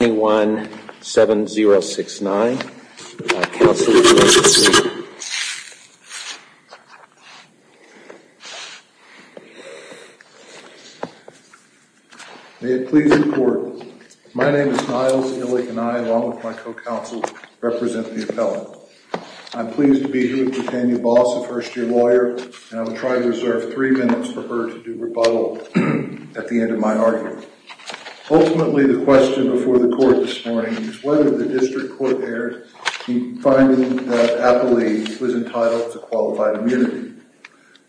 May it please the court. My name is Niles Illick and I, along with my co-counsel, represent the appellant. I'm pleased to be here with Dr. Tanya Boss, a first-year lawyer, and I will try to reserve three minutes for her to do rebuttal at the end of my argument. Ultimately, the question before the court this morning is whether the district court erred in finding that Applee was entitled to qualified immunity.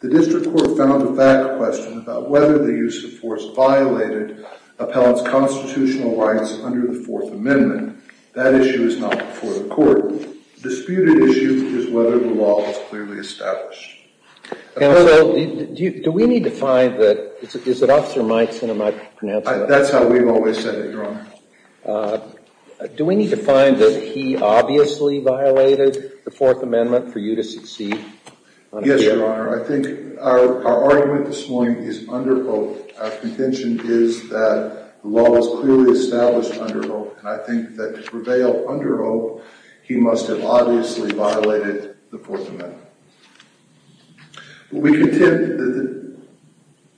The district court found the fact question about whether the use of force violated appellant's constitutional rights under the Fourth Amendment. That issue is not before the court. The disputed issue is whether the law was clearly established. Counsel, do we need to find that, is it Officer Meitzen I'm pronouncing? That's how we've always said it, Your Honor. Do we need to find that he obviously violated the Fourth Amendment for you to succeed? Yes, Your Honor. I think our argument this morning is under oath. Our contention is that the law was clearly established under oath, and I think that to prevail under oath, he must have obviously violated the Fourth Amendment. We contend that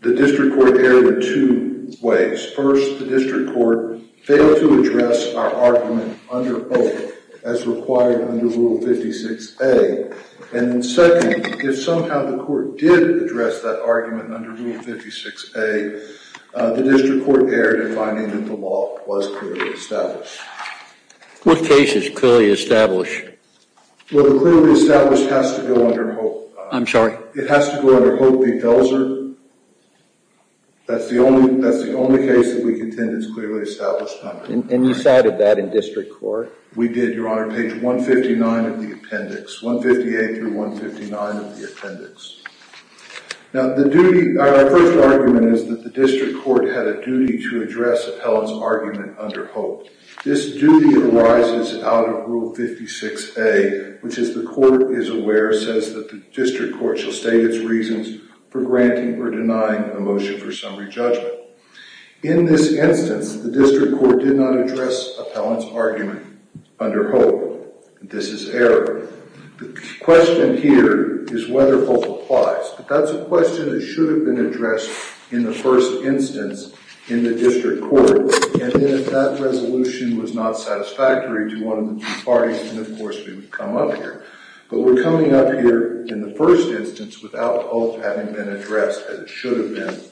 the district court erred in two ways. First, the district court failed to address our argument under oath as required under Rule 56A, and second, if somehow the court did address that argument under Rule 56A, the district court erred in finding that the law was clearly established. What case is clearly established? Well, the clearly established has to go under hope. I'm sorry? It has to go under Hope v. Delser. That's the only case that we contend is clearly established. And you cited that in district court? We did, Your Honor, page 159 of the appendix, 158 through 159 of the appendix. Now, the duty, our first argument is that the district court had a duty to address appellant's argument under hope. This duty arises out of Rule 56A, which is the court is aware says that the district court shall state its reasons for granting or denying a motion for summary judgment. In this instance, the district court did not address appellant's argument under hope. This is error. The question here is whether hope applies. But that's a question that should have been addressed in the first instance in the district court. And then if that resolution was not satisfactory to one of the two parties, then of course we would come up here. But we're coming up here in the first instance without hope having been addressed as it should have been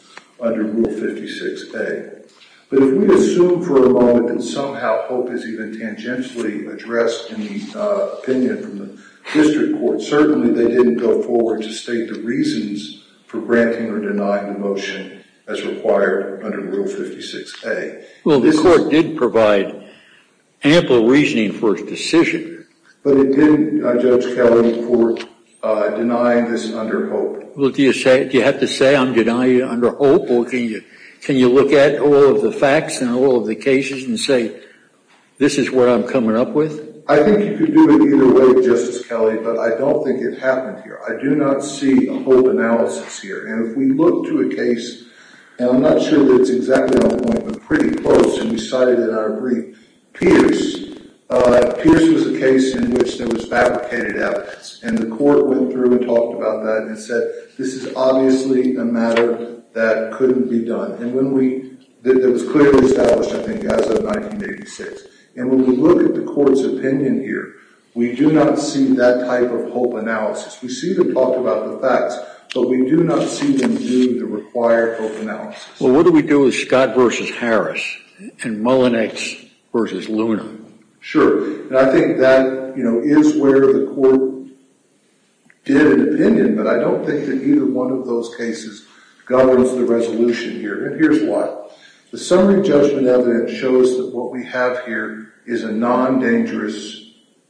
under Rule 56A. But if we assume for a moment that somehow hope is even tangentially addressed in the opinion from the district court, certainly they didn't go forward to state the reasons for granting or denying the motion as required under Rule 56A. Well, the court did provide ample reasoning for its decision. But it didn't, Judge Kelly, for denying this under hope. Well, do you say, do you have to say I'm denying under hope? Or can you look at all of the facts and all of the cases and say this is what I'm coming up with? I think you could do either way, Justice Kelly, but I don't think it happened here. I do not see a hope analysis here. And if we look to a case, and I'm not sure that it's exactly on point, but pretty close, and we cited it in our brief, Pierce. Pierce was a case in which there was fabricated evidence. And the court went through and talked about that and said this is obviously a matter that couldn't be done. And when we, that was clearly established, I think, as of 1986. And when we look at the court's opinion here, we do not see that type of hope analysis. We see them talk about the facts, but we do not see them do the required hope analysis. Well, what do we do with Scott v. Harris and Mullenix v. Luna? Sure. And I think that, you know, is where the court did an opinion. But I don't think that either one of those cases governs the resolution here. And here's why. The summary judgment evidence shows that what we have here is a non-dangerous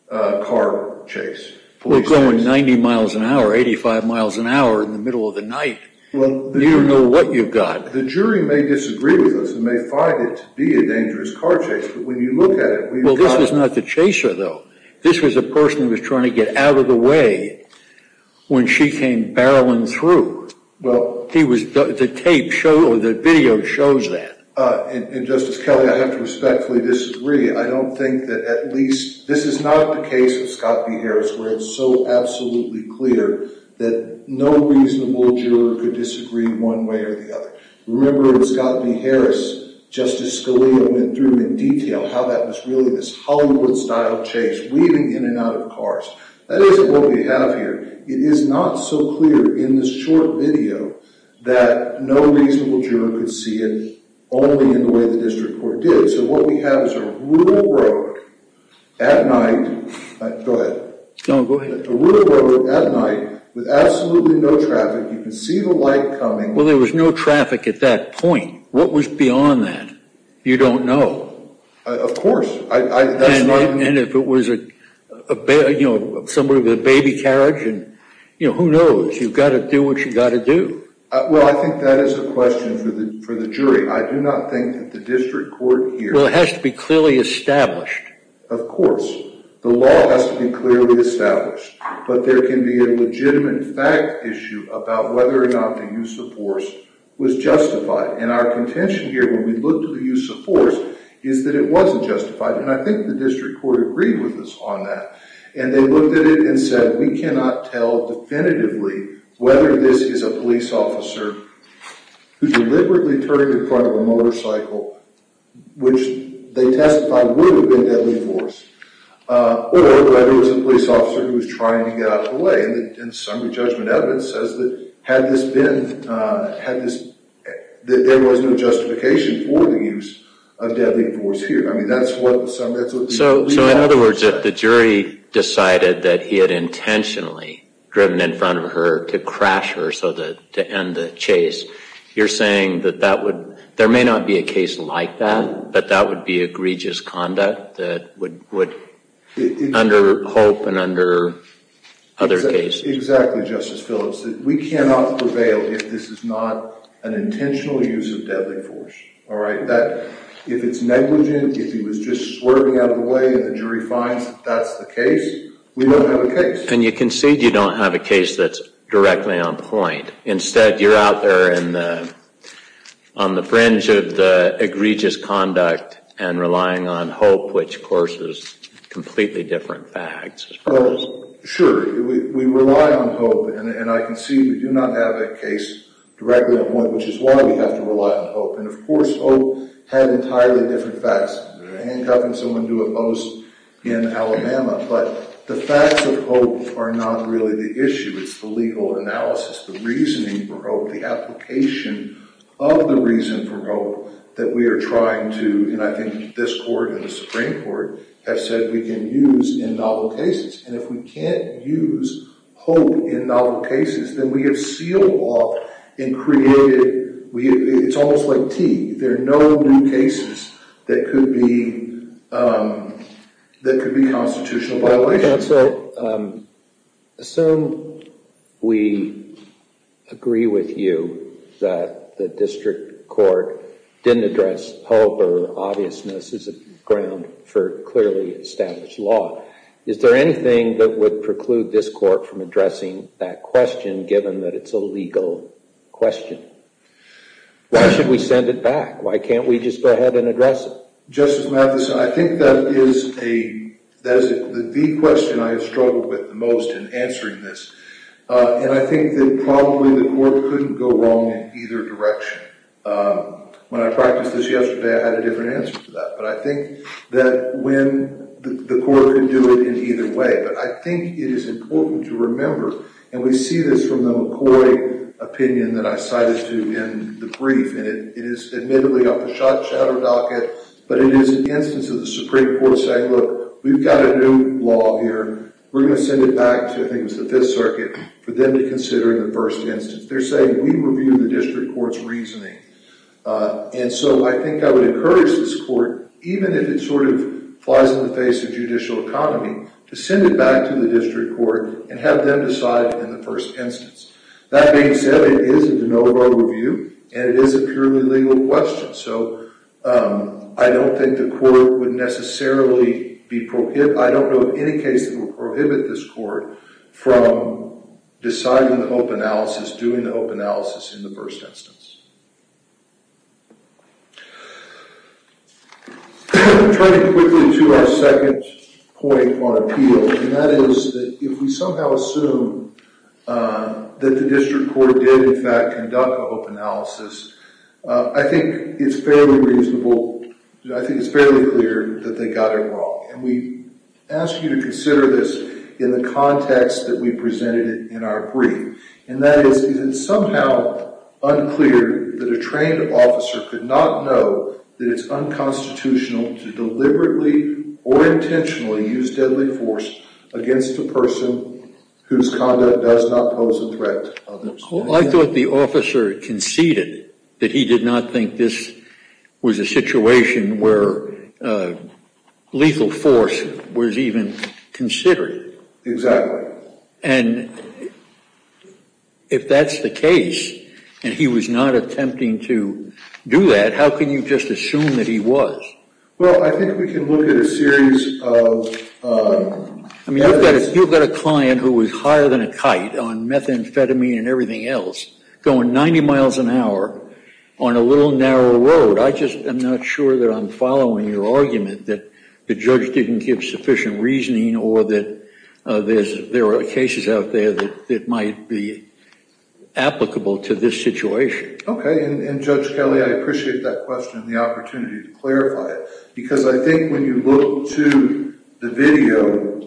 car chase. We're going 90 miles an hour, 85 miles an hour, in the middle of the night. Well, you don't know what you've got. The jury may disagree with us and may find it to be a dangerous car chase. But when you look at it, well, this is not the chaser, though. This was a person who was trying to get out of the way when she came barreling through. Well, he was, the tape shows, the video shows that. And Justice Kelly, I have to respectfully disagree. I don't think that at least, this is not the case with Scott v. Harris where it's so absolutely clear that no reasonable juror could disagree one way or the other. Remember in Scott v. Harris, Justice Scalia went through in detail how that was really this Hollywood-style chase, weaving in and out of cars. That isn't what we see only in the way the district court did. So what we have is a rural road at night with absolutely no traffic. You can see the light coming. Well, there was no traffic at that point. What was beyond that? You don't know. Of course. And if it was a, you know, somebody with a baby carriage and, you know, who knows? You've got to do what you got to do. Well, I think that is a question for the jury. I do not think that the district court here- Well, it has to be clearly established. Of course. The law has to be clearly established. But there can be a legitimate fact issue about whether or not the use of force was justified. And our contention here when we look to the use of force is that it wasn't justified. And I think the district court agreed with us on that. And they looked at it and said, we cannot tell definitively whether this is a police officer who deliberately turned in front of a motorcycle, which they testified would have been deadly force, or whether it was a police officer who was trying to get out of the way. And some of the judgment evidence says that had this been- that there was no justification for the use of deadly force here. I mean, that's what- So, in other words, if the jury decided that he had intentionally driven in front of her to crash her so that- to end the chase, you're saying that that would- there may not be a case like that, but that would be egregious conduct that would- would- under Hope and under other cases. Exactly, Justice Phillips. We cannot prevail if this is not an intentional use of deadly force. All right? That- if it's negligent, if he was just swerving out of the way and the jury finds that's the case, we don't have a case. And you concede you don't have a case that's directly on point. Instead, you're out there in the- on the fringe of the egregious conduct and relying on Hope, which, of course, is completely different facts. Well, sure. We rely on Hope, and I concede we do not have a case directly on point, which is why we have to rely on Hope. And, of course, Hope had entirely different facts. They're handcuffing someone to a post in Alabama, but the facts of Hope are not really the issue. It's the legal analysis, the reasoning for Hope, the application of the reason for Hope that we are trying to- and I think this court and the Supreme Court have said we can use in novel cases. And if we can't use Hope in novel cases, then we have sealed off and created- we- it's almost like tea. There are no new cases that could be- that could be constitutional violations. Counsel, assume we agree with you that the district court didn't address Hope or obviousness as a ground for clearly established law. Is there anything that would preclude this we send it back? Why can't we just go ahead and address it? Justice Mathison, I think that is a- that is the question I have struggled with the most in answering this. And I think that probably the court couldn't go wrong in either direction. When I practiced this yesterday, I had a different answer to that. But I think that when- the court could do it in either way. But I think it is important to remember, and we see this from the McCoy opinion that I cited to in the brief, it is admittedly up a shot shadow docket, but it is an instance of the Supreme Court saying, look, we've got a new law here. We're going to send it back to, I think it was the Fifth Circuit, for them to consider in the first instance. They're saying we review the district court's reasoning. And so I think I would encourage this court, even if it sort of flies in the face of judicial economy, to send it back to the district court and have them decide in the first instance. That being said, it is a de novo review, and it is a purely legal question. So I don't think the court would necessarily be prohib- I don't know of any case that would prohibit this court from deciding the hope analysis, doing the hope analysis in the first instance. Turning quickly to our second point on appeal, and that is that if we somehow assume the district court did in fact conduct a hope analysis, I think it's fairly reasonable, I think it's fairly clear that they got it wrong. And we ask you to consider this in the context that we presented it in our brief. And that is, is it somehow unclear that a trained officer could not know that it's unconstitutional to deliberately or intentionally use deadly force against a person whose conduct does not pose a threat to others? I thought the officer conceded that he did not think this was a situation where lethal force was even considered. Exactly. And if that's the case, and he was not attempting to do that, how can you just assume that he was? Well, I think we can look at a series of- I mean, you've got a client who was higher than a kite on methamphetamine and everything else, going 90 miles an hour on a little narrower road. I just am not sure that I'm following your argument that the judge didn't give sufficient reasoning or that there are cases out there that might be applicable to this situation. Okay, and Judge Kelly, I appreciate that question and the opportunity to clarify it. Because I think when you look to the video,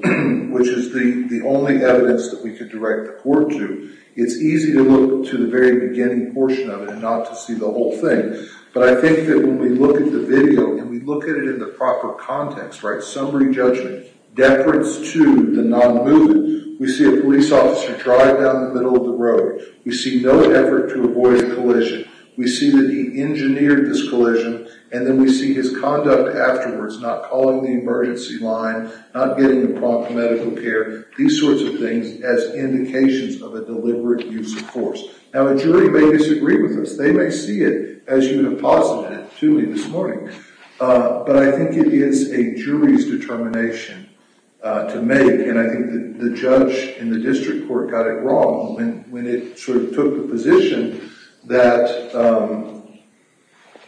which is the only evidence that we could direct the court to, it's easy to look to the very beginning portion of it and not to see the whole thing. But I think that when we look at the video and we look at it in the proper context, summary judgment, deference to the non-movement, we see a police officer drive down the middle of the road. We see no effort to avoid a collision. We see that he engineered this collision. And then we see his conduct afterwards, not calling the emergency line, not getting the prompt medical care, these sorts of things as indications of a deliberate use of force. Now, a jury may disagree with us. They may see it as you deposited it to me this morning. But I think it is a jury's determination to make. And I think that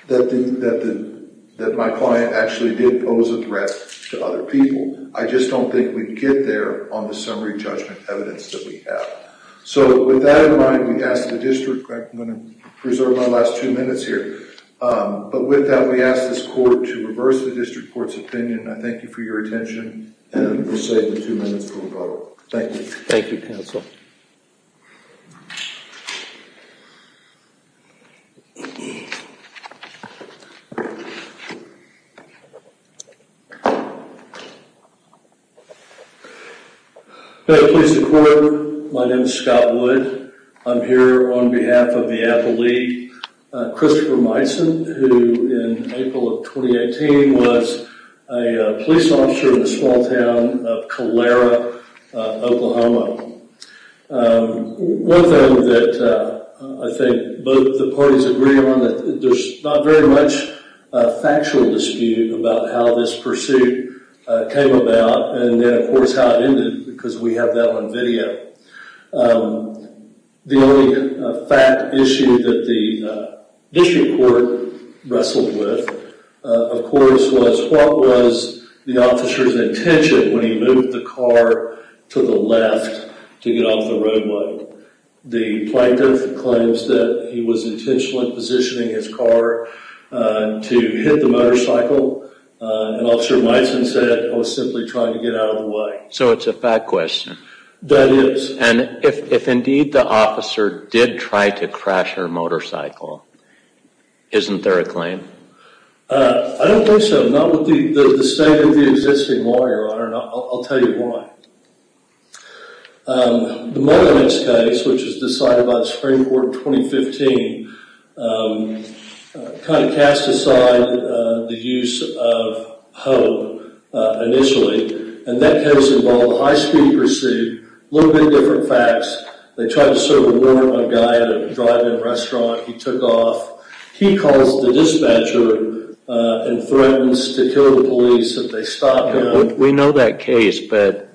the fact that my client actually did pose a threat to other people, I just don't think we'd get there on the summary judgment evidence that we have. So with that in mind, we ask the district, I'm going to preserve my last two minutes here. But with that, we ask this court to reverse the district court's opinion. I thank you for your attention. And we'll save the two minutes for Thank you. Thank you, counsel. Hello, police department. My name is Scott Wood. I'm here on behalf of the Apple League. Christopher Myson, who in April of 2018 was a police officer in the small town of Calera, Oklahoma. One thing that I think both the parties agree on that there's not very much a factual dispute about how this pursuit came about. And then of course, how it ended because we have that on video. The only fact issue that the district court wrestled with, of course, was what was the officer's intention when he moved the car to the left to get off the roadway. The plaintiff claims that he was intentional in positioning his car to hit the motorcycle. And Officer Myson said, I was simply trying to get out of the way. So it's a fact question. That is. And if indeed the officer did try to crash her motorcycle, isn't there a claim? I don't think so. Not with the state of the existing lawyer, I don't know. I'll tell you why. The Mullinance case, which was decided by the Supreme Court in 2015, kind of cast aside the use of hope initially. And that case involved a high-speed pursuit, little bit different facts. They tried to serve a warrant on a guy at a drive-in restaurant. He took off. He calls the dispatcher and threatens to kill the police if they stop him. We know that case, but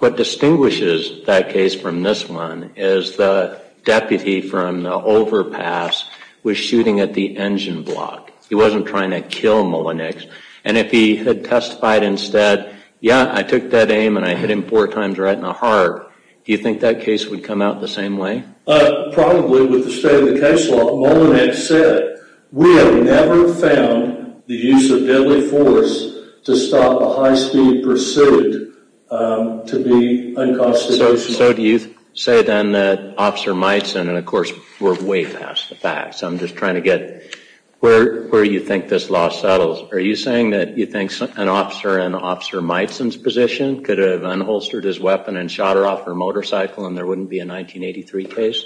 what distinguishes that case from this one is the deputy from Overpass was shooting at the engine block. He wasn't trying to kill Mullinance. And if he had testified instead, yeah, I took that aim and I hit him four times right in the heart. Do you think that case would come out the same way? Probably with the state of the case law. Mullinance said, we have never found the use of deadly force to stop a high-speed pursuit to be unconstitutional. So do you say then that Officer Miteson, and of course, we're way past the facts, I'm just trying to get where you think this law settles. Are you saying that you think an officer in Officer Miteson's position could have unholstered his weapon and shot her off her motorcycle and there wouldn't be a 1983 case?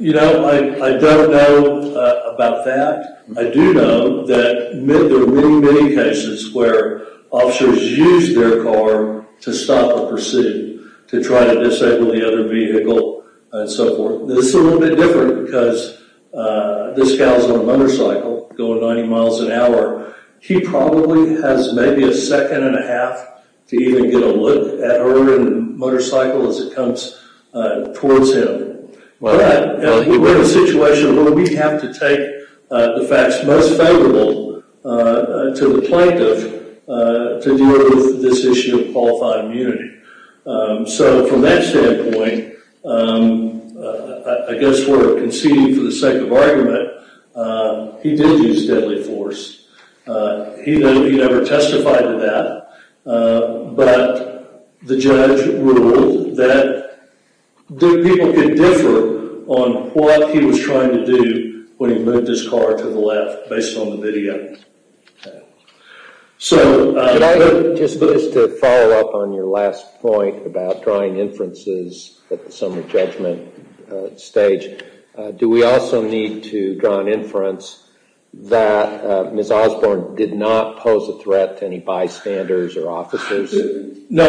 You know, I don't know about that. I do know that there are many, many cases where officers use their car to stop a pursuit, to try to disable the other vehicle and so forth. This is a little bit different because this gal's on a motorcycle going 90 miles an hour. He probably has maybe a second and a half to even get a look at her motorcycle as it comes towards him. But we're in a situation where we have to take the facts most favorable to the plaintiff to deal with this issue of qualified immunity. So from that standpoint, I guess we're conceding for the sake of argument, he did use deadly force. He never testified to that, but the judge ruled that people could differ on what he was trying to do when he moved his car to the left based on the last point about drawing inferences at the summary judgment stage. Do we also need to draw an inference that Ms. Osborne did not pose a threat to any bystanders or officers? No,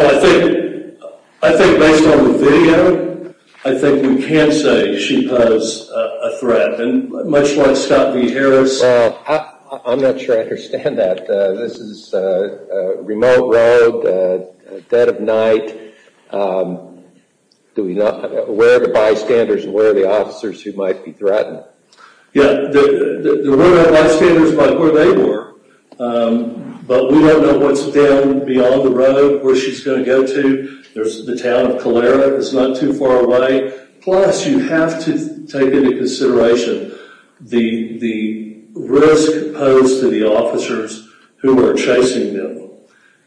I think based on the video, I think we can say she posed a threat and much like Scott V. Knight, where are the bystanders and where are the officers who might be threatened? Yeah, there were no bystanders by where they were, but we don't know what's down beyond the road where she's going to go to. There's the town of Calera that's not too far away. Plus, you have to take into consideration the risk posed to the officers who were chasing them.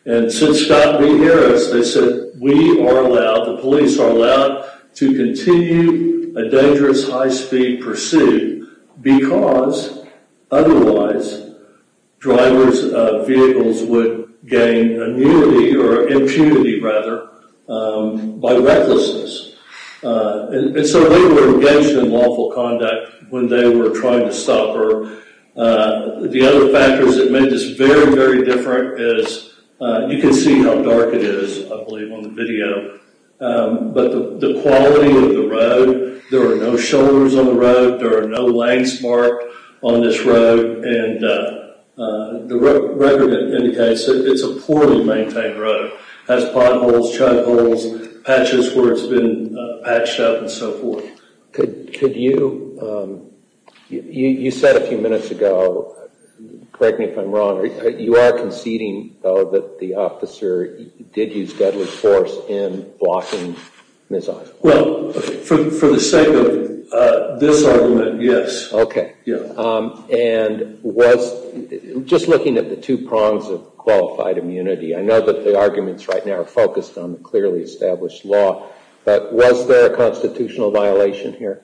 And since Scott didn't hear us, they said, we are allowed, the police are allowed to continue a dangerous high speed pursuit because otherwise driver's vehicles would gain immunity or impunity rather by recklessness. And so they were engaged in lawful conduct when they were trying to stop her. The other factors that made this very, very different is you can see how dark it is, I believe, on the video. But the quality of the road, there are no shoulders on the road, there are no lanes marked on this road. And the record indicates that it's a poorly maintained road. It has potholes, chuck holes, patches where it's been patched up and so forth. Could you, you said a few minutes ago, correct me if I'm wrong, you are conceding though that the officer did use deadly force in blocking Ms. Osborne? Well, for the sake of this argument, yes. Okay. And was, just looking at the two prongs of qualified immunity, I know that the arguments right now are focused on the clearly established law. But was there a constitutional violation here?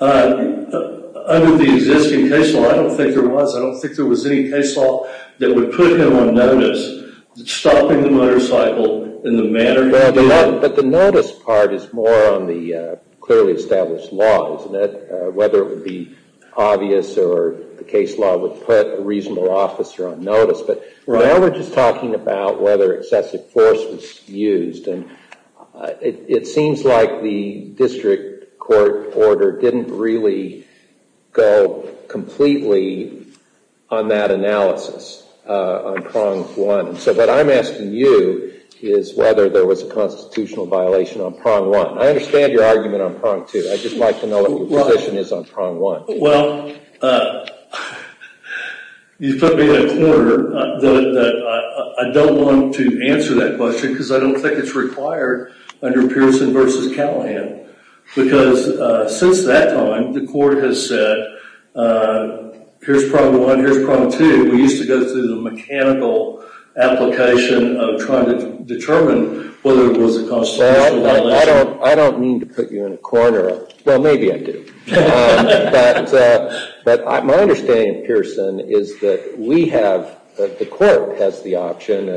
Under the existing case law, I don't think there was. I don't think there was any case law that would put him on notice stopping the motorcycle in the manner he did. But the notice part is more on the clearly established law, isn't it? Whether it would be obvious or the case law would put a reasonable officer on notice. But now we're just talking about whether excessive force was used. And it seems like the district court order didn't really go completely on that analysis on prong one. So what I'm asking you is whether there was a constitutional violation on prong one. I understand your argument on prong two. I just like to know what your position is on prong one. Well, you put me in a corner. I don't want to answer that question because I don't think it's required under Pearson v. Callahan. Because since that time, the court has said, here's prong one, here's prong two. We used to go through the mechanical application of trying to determine whether it was a constitutional violation. I don't mean to put you in a corner. Well, maybe I do. But my understanding of Pearson is that the court has the option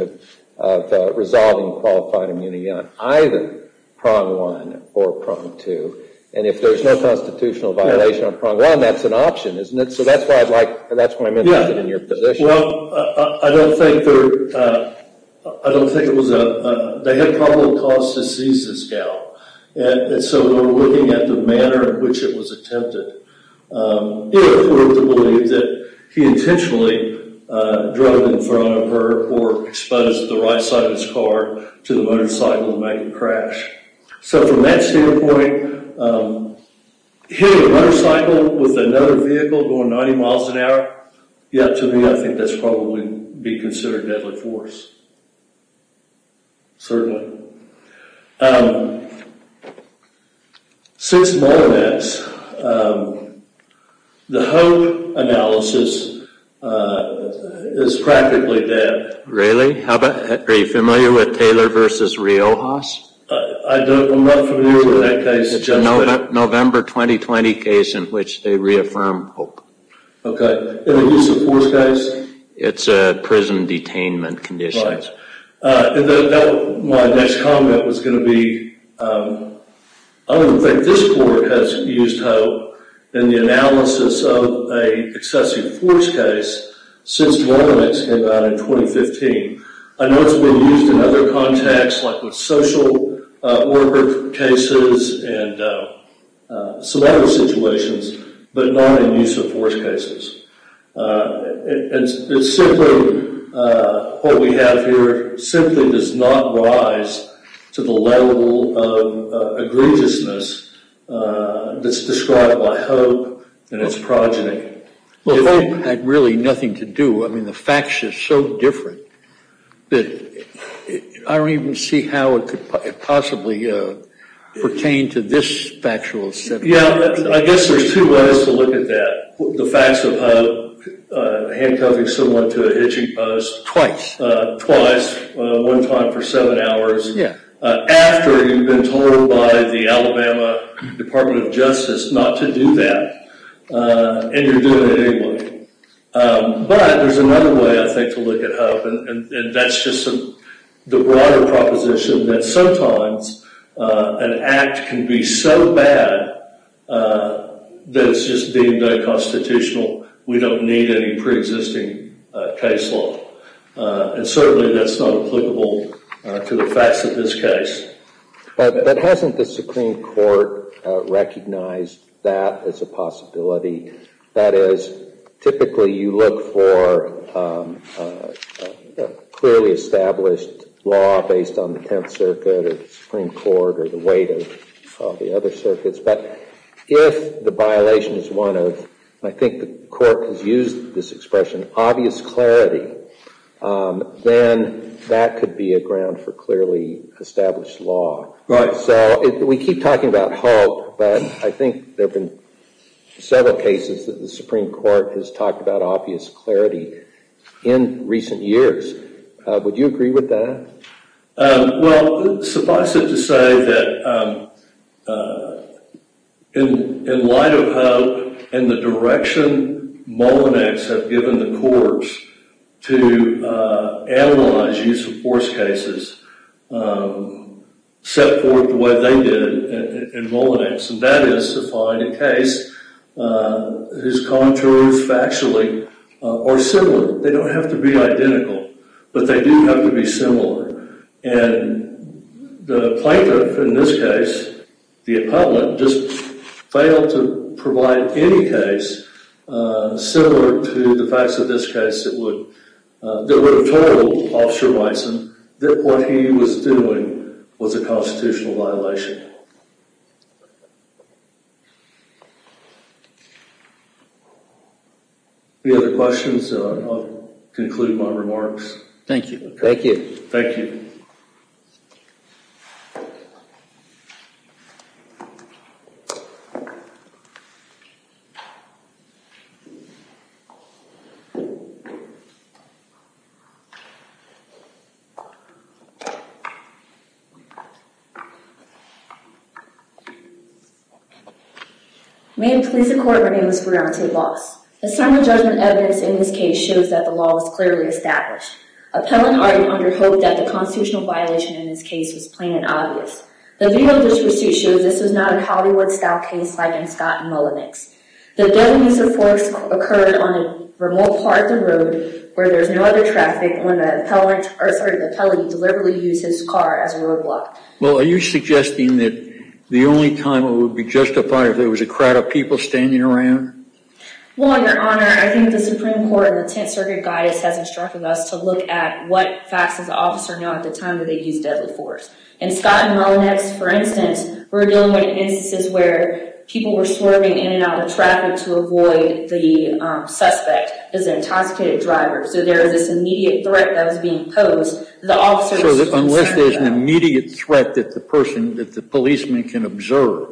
of resolving qualified immunity on either prong one or prong two. And if there's no constitutional violation on prong one, that's an option, isn't it? So that's why I mentioned it in your position. Well, I don't think there... I don't think it was a... They had probable cause to seize this gal. And so we're looking at the manner in which it was attempted. If we're to believe that he intentionally drove in front of her or exposed the right side of his car to the motorcycle to make a crash. So from that standpoint, hitting a motorcycle with another vehicle going 90 miles an hour, yeah, to me, I think that's probably be considered deadly force. Certainly. Since Monomax, the Hope analysis is practically dead. Really? How about... Are you familiar with Taylor v. Riojas? I'm not familiar with that case. November 2020 case in which they reaffirmed Hope. Okay. In a use of force case? It's a prison detainment condition. My next comment was going to be, I don't think this board has used Hope in the analysis of a excessive force case since Monomax came out in 2015. I know it's been used in other contexts, like with social worker cases and some other situations, but not in use of force cases. It's simply what we have here simply does not rise to the level of egregiousness that's described by Hope and its progeny. Well, Hope had really nothing to do. I mean, facts are so different that I don't even see how it could possibly pertain to this factual... Yeah, I guess there's two ways to look at that. The facts of Hope, handcuffing someone to a hitching post. Twice. Twice. One time for seven hours. Yeah. After you've been told by the Alabama Department of Justice not to do that, and you're doing it anyway. But there's another way, I think, to look at Hope, and that's just the broader proposition that sometimes an act can be so bad that it's just deemed unconstitutional. We don't need any pre-existing case law. And certainly that's not applicable to the facts of this case. But hasn't the Supreme Court recognized that as a possibility? That is, typically you look for clearly established law based on the Tenth Circuit or the Supreme Court or the weight of the other circuits. But if the violation is one of, I think the court has used this expression, obvious clarity, then that could be a ground for clearly established law. Right. So we keep talking about Hope, but I think there have been several cases that the Supreme Court has talked about obvious clarity in recent years. Would you agree with that? Well, suffice it to say that in light of Hope and the direction Molinax have given the courts to analyze use of force cases set forth the way they did in Molinax. And that is to find a case whose contours factually are similar. They don't have to be identical, but they do have to be similar. And the plaintiff in this case, the appellant, just failed to provide any case similar to the facts of this case that would have told Officer Wyson that what he was doing was a constitutional violation. Any other questions? I'll conclude my remarks. Thank you. Thank you. Thank you. May it please the court, my name is Brionte Loss. Assignment judgment evidence in this case shows that the law was clearly established. Appellant Arden under hoped that the constitutional violation in this case was plain and obvious. The video of this pursuit shows this was not a Hollywood-style case like in Scott and Molinax. The deadly use of force occurred on a remote part of the road where there's no other traffic when the appellant deliberately used his car as a roadblock. Well, are you suggesting that the only time it would be justified if there was a crowd of people standing around? Well, Your Honor, I think the Supreme Court and the Tenth Circuit guidance has instructed us to look at what facts does the officer know at the time that they used deadly force. In Scott and Molinax, for instance, we're dealing with instances where people were swerving in and out of traffic to avoid the suspect as an intoxicated driver. So there was this immediate threat that was being posed. The officer... Unless there's an immediate threat that the policeman can observe,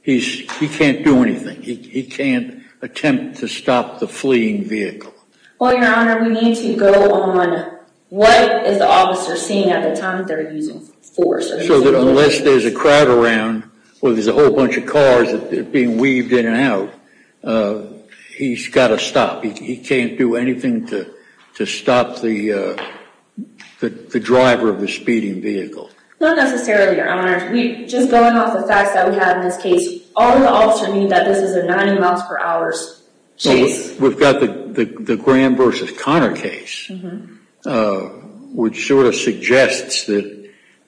he can't do anything. He can't attempt to stop the fleeing vehicle. Well, Your Honor, we need to go on what is the officer seeing at the time that they're using force. So that unless there's a crowd around or there's a whole bunch of cars that are being weaved in and out, he's got to stop. He can't do anything to stop the driver of the speeding vehicle. Not necessarily, Your Honor. Just going off the facts that we have in this case, all the officer knew that this is a 90 miles per hour chase. We've got the Graham versus Connor case, which sort of suggests that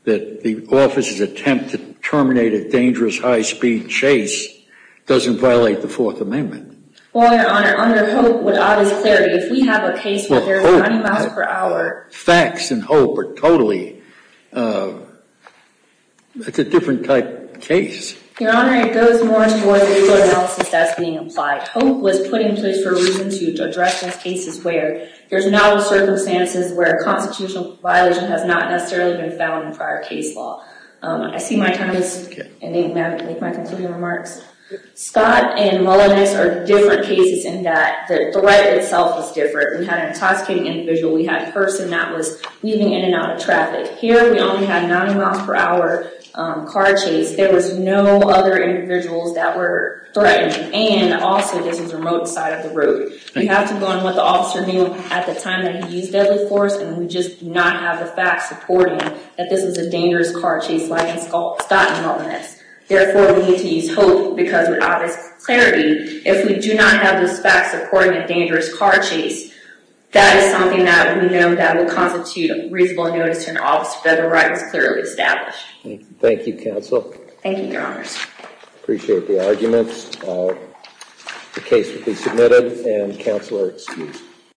the officer's attempt to violate the Fourth Amendment. Well, Your Honor, under HOPE, with obvious clarity, if we have a case where there are 90 miles per hour... FACTS and HOPE are totally... It's a different type of case. Your Honor, it goes more towards legal analysis that's being applied. HOPE was put in place for reasons to address these cases where there's novel circumstances where a constitutional violation has not necessarily been found in prior case law. I see my time is ending. May I make my remarks? Scott and Mullenix are different cases in that the threat itself is different. We had an intoxicating individual. We had a person that was weaving in and out of traffic. Here, we only had 90 miles per hour car chase. There was no other individuals that were threatened. And also, this was a remote side of the road. We have to go on what the officer knew at the time that he used deadly force, and we just do not have the facts supporting that this was a dangerous car chase like in Scott and Mullenix. Therefore, we need to use HOPE because with obvious clarity, if we do not have those facts supporting a dangerous car chase, that is something that we know that will constitute a reasonable notice to an officer that the right is clearly established. Thank you, counsel. Thank you, Your Honors. Appreciate the arguments. The case will be submitted, and counsel are excused.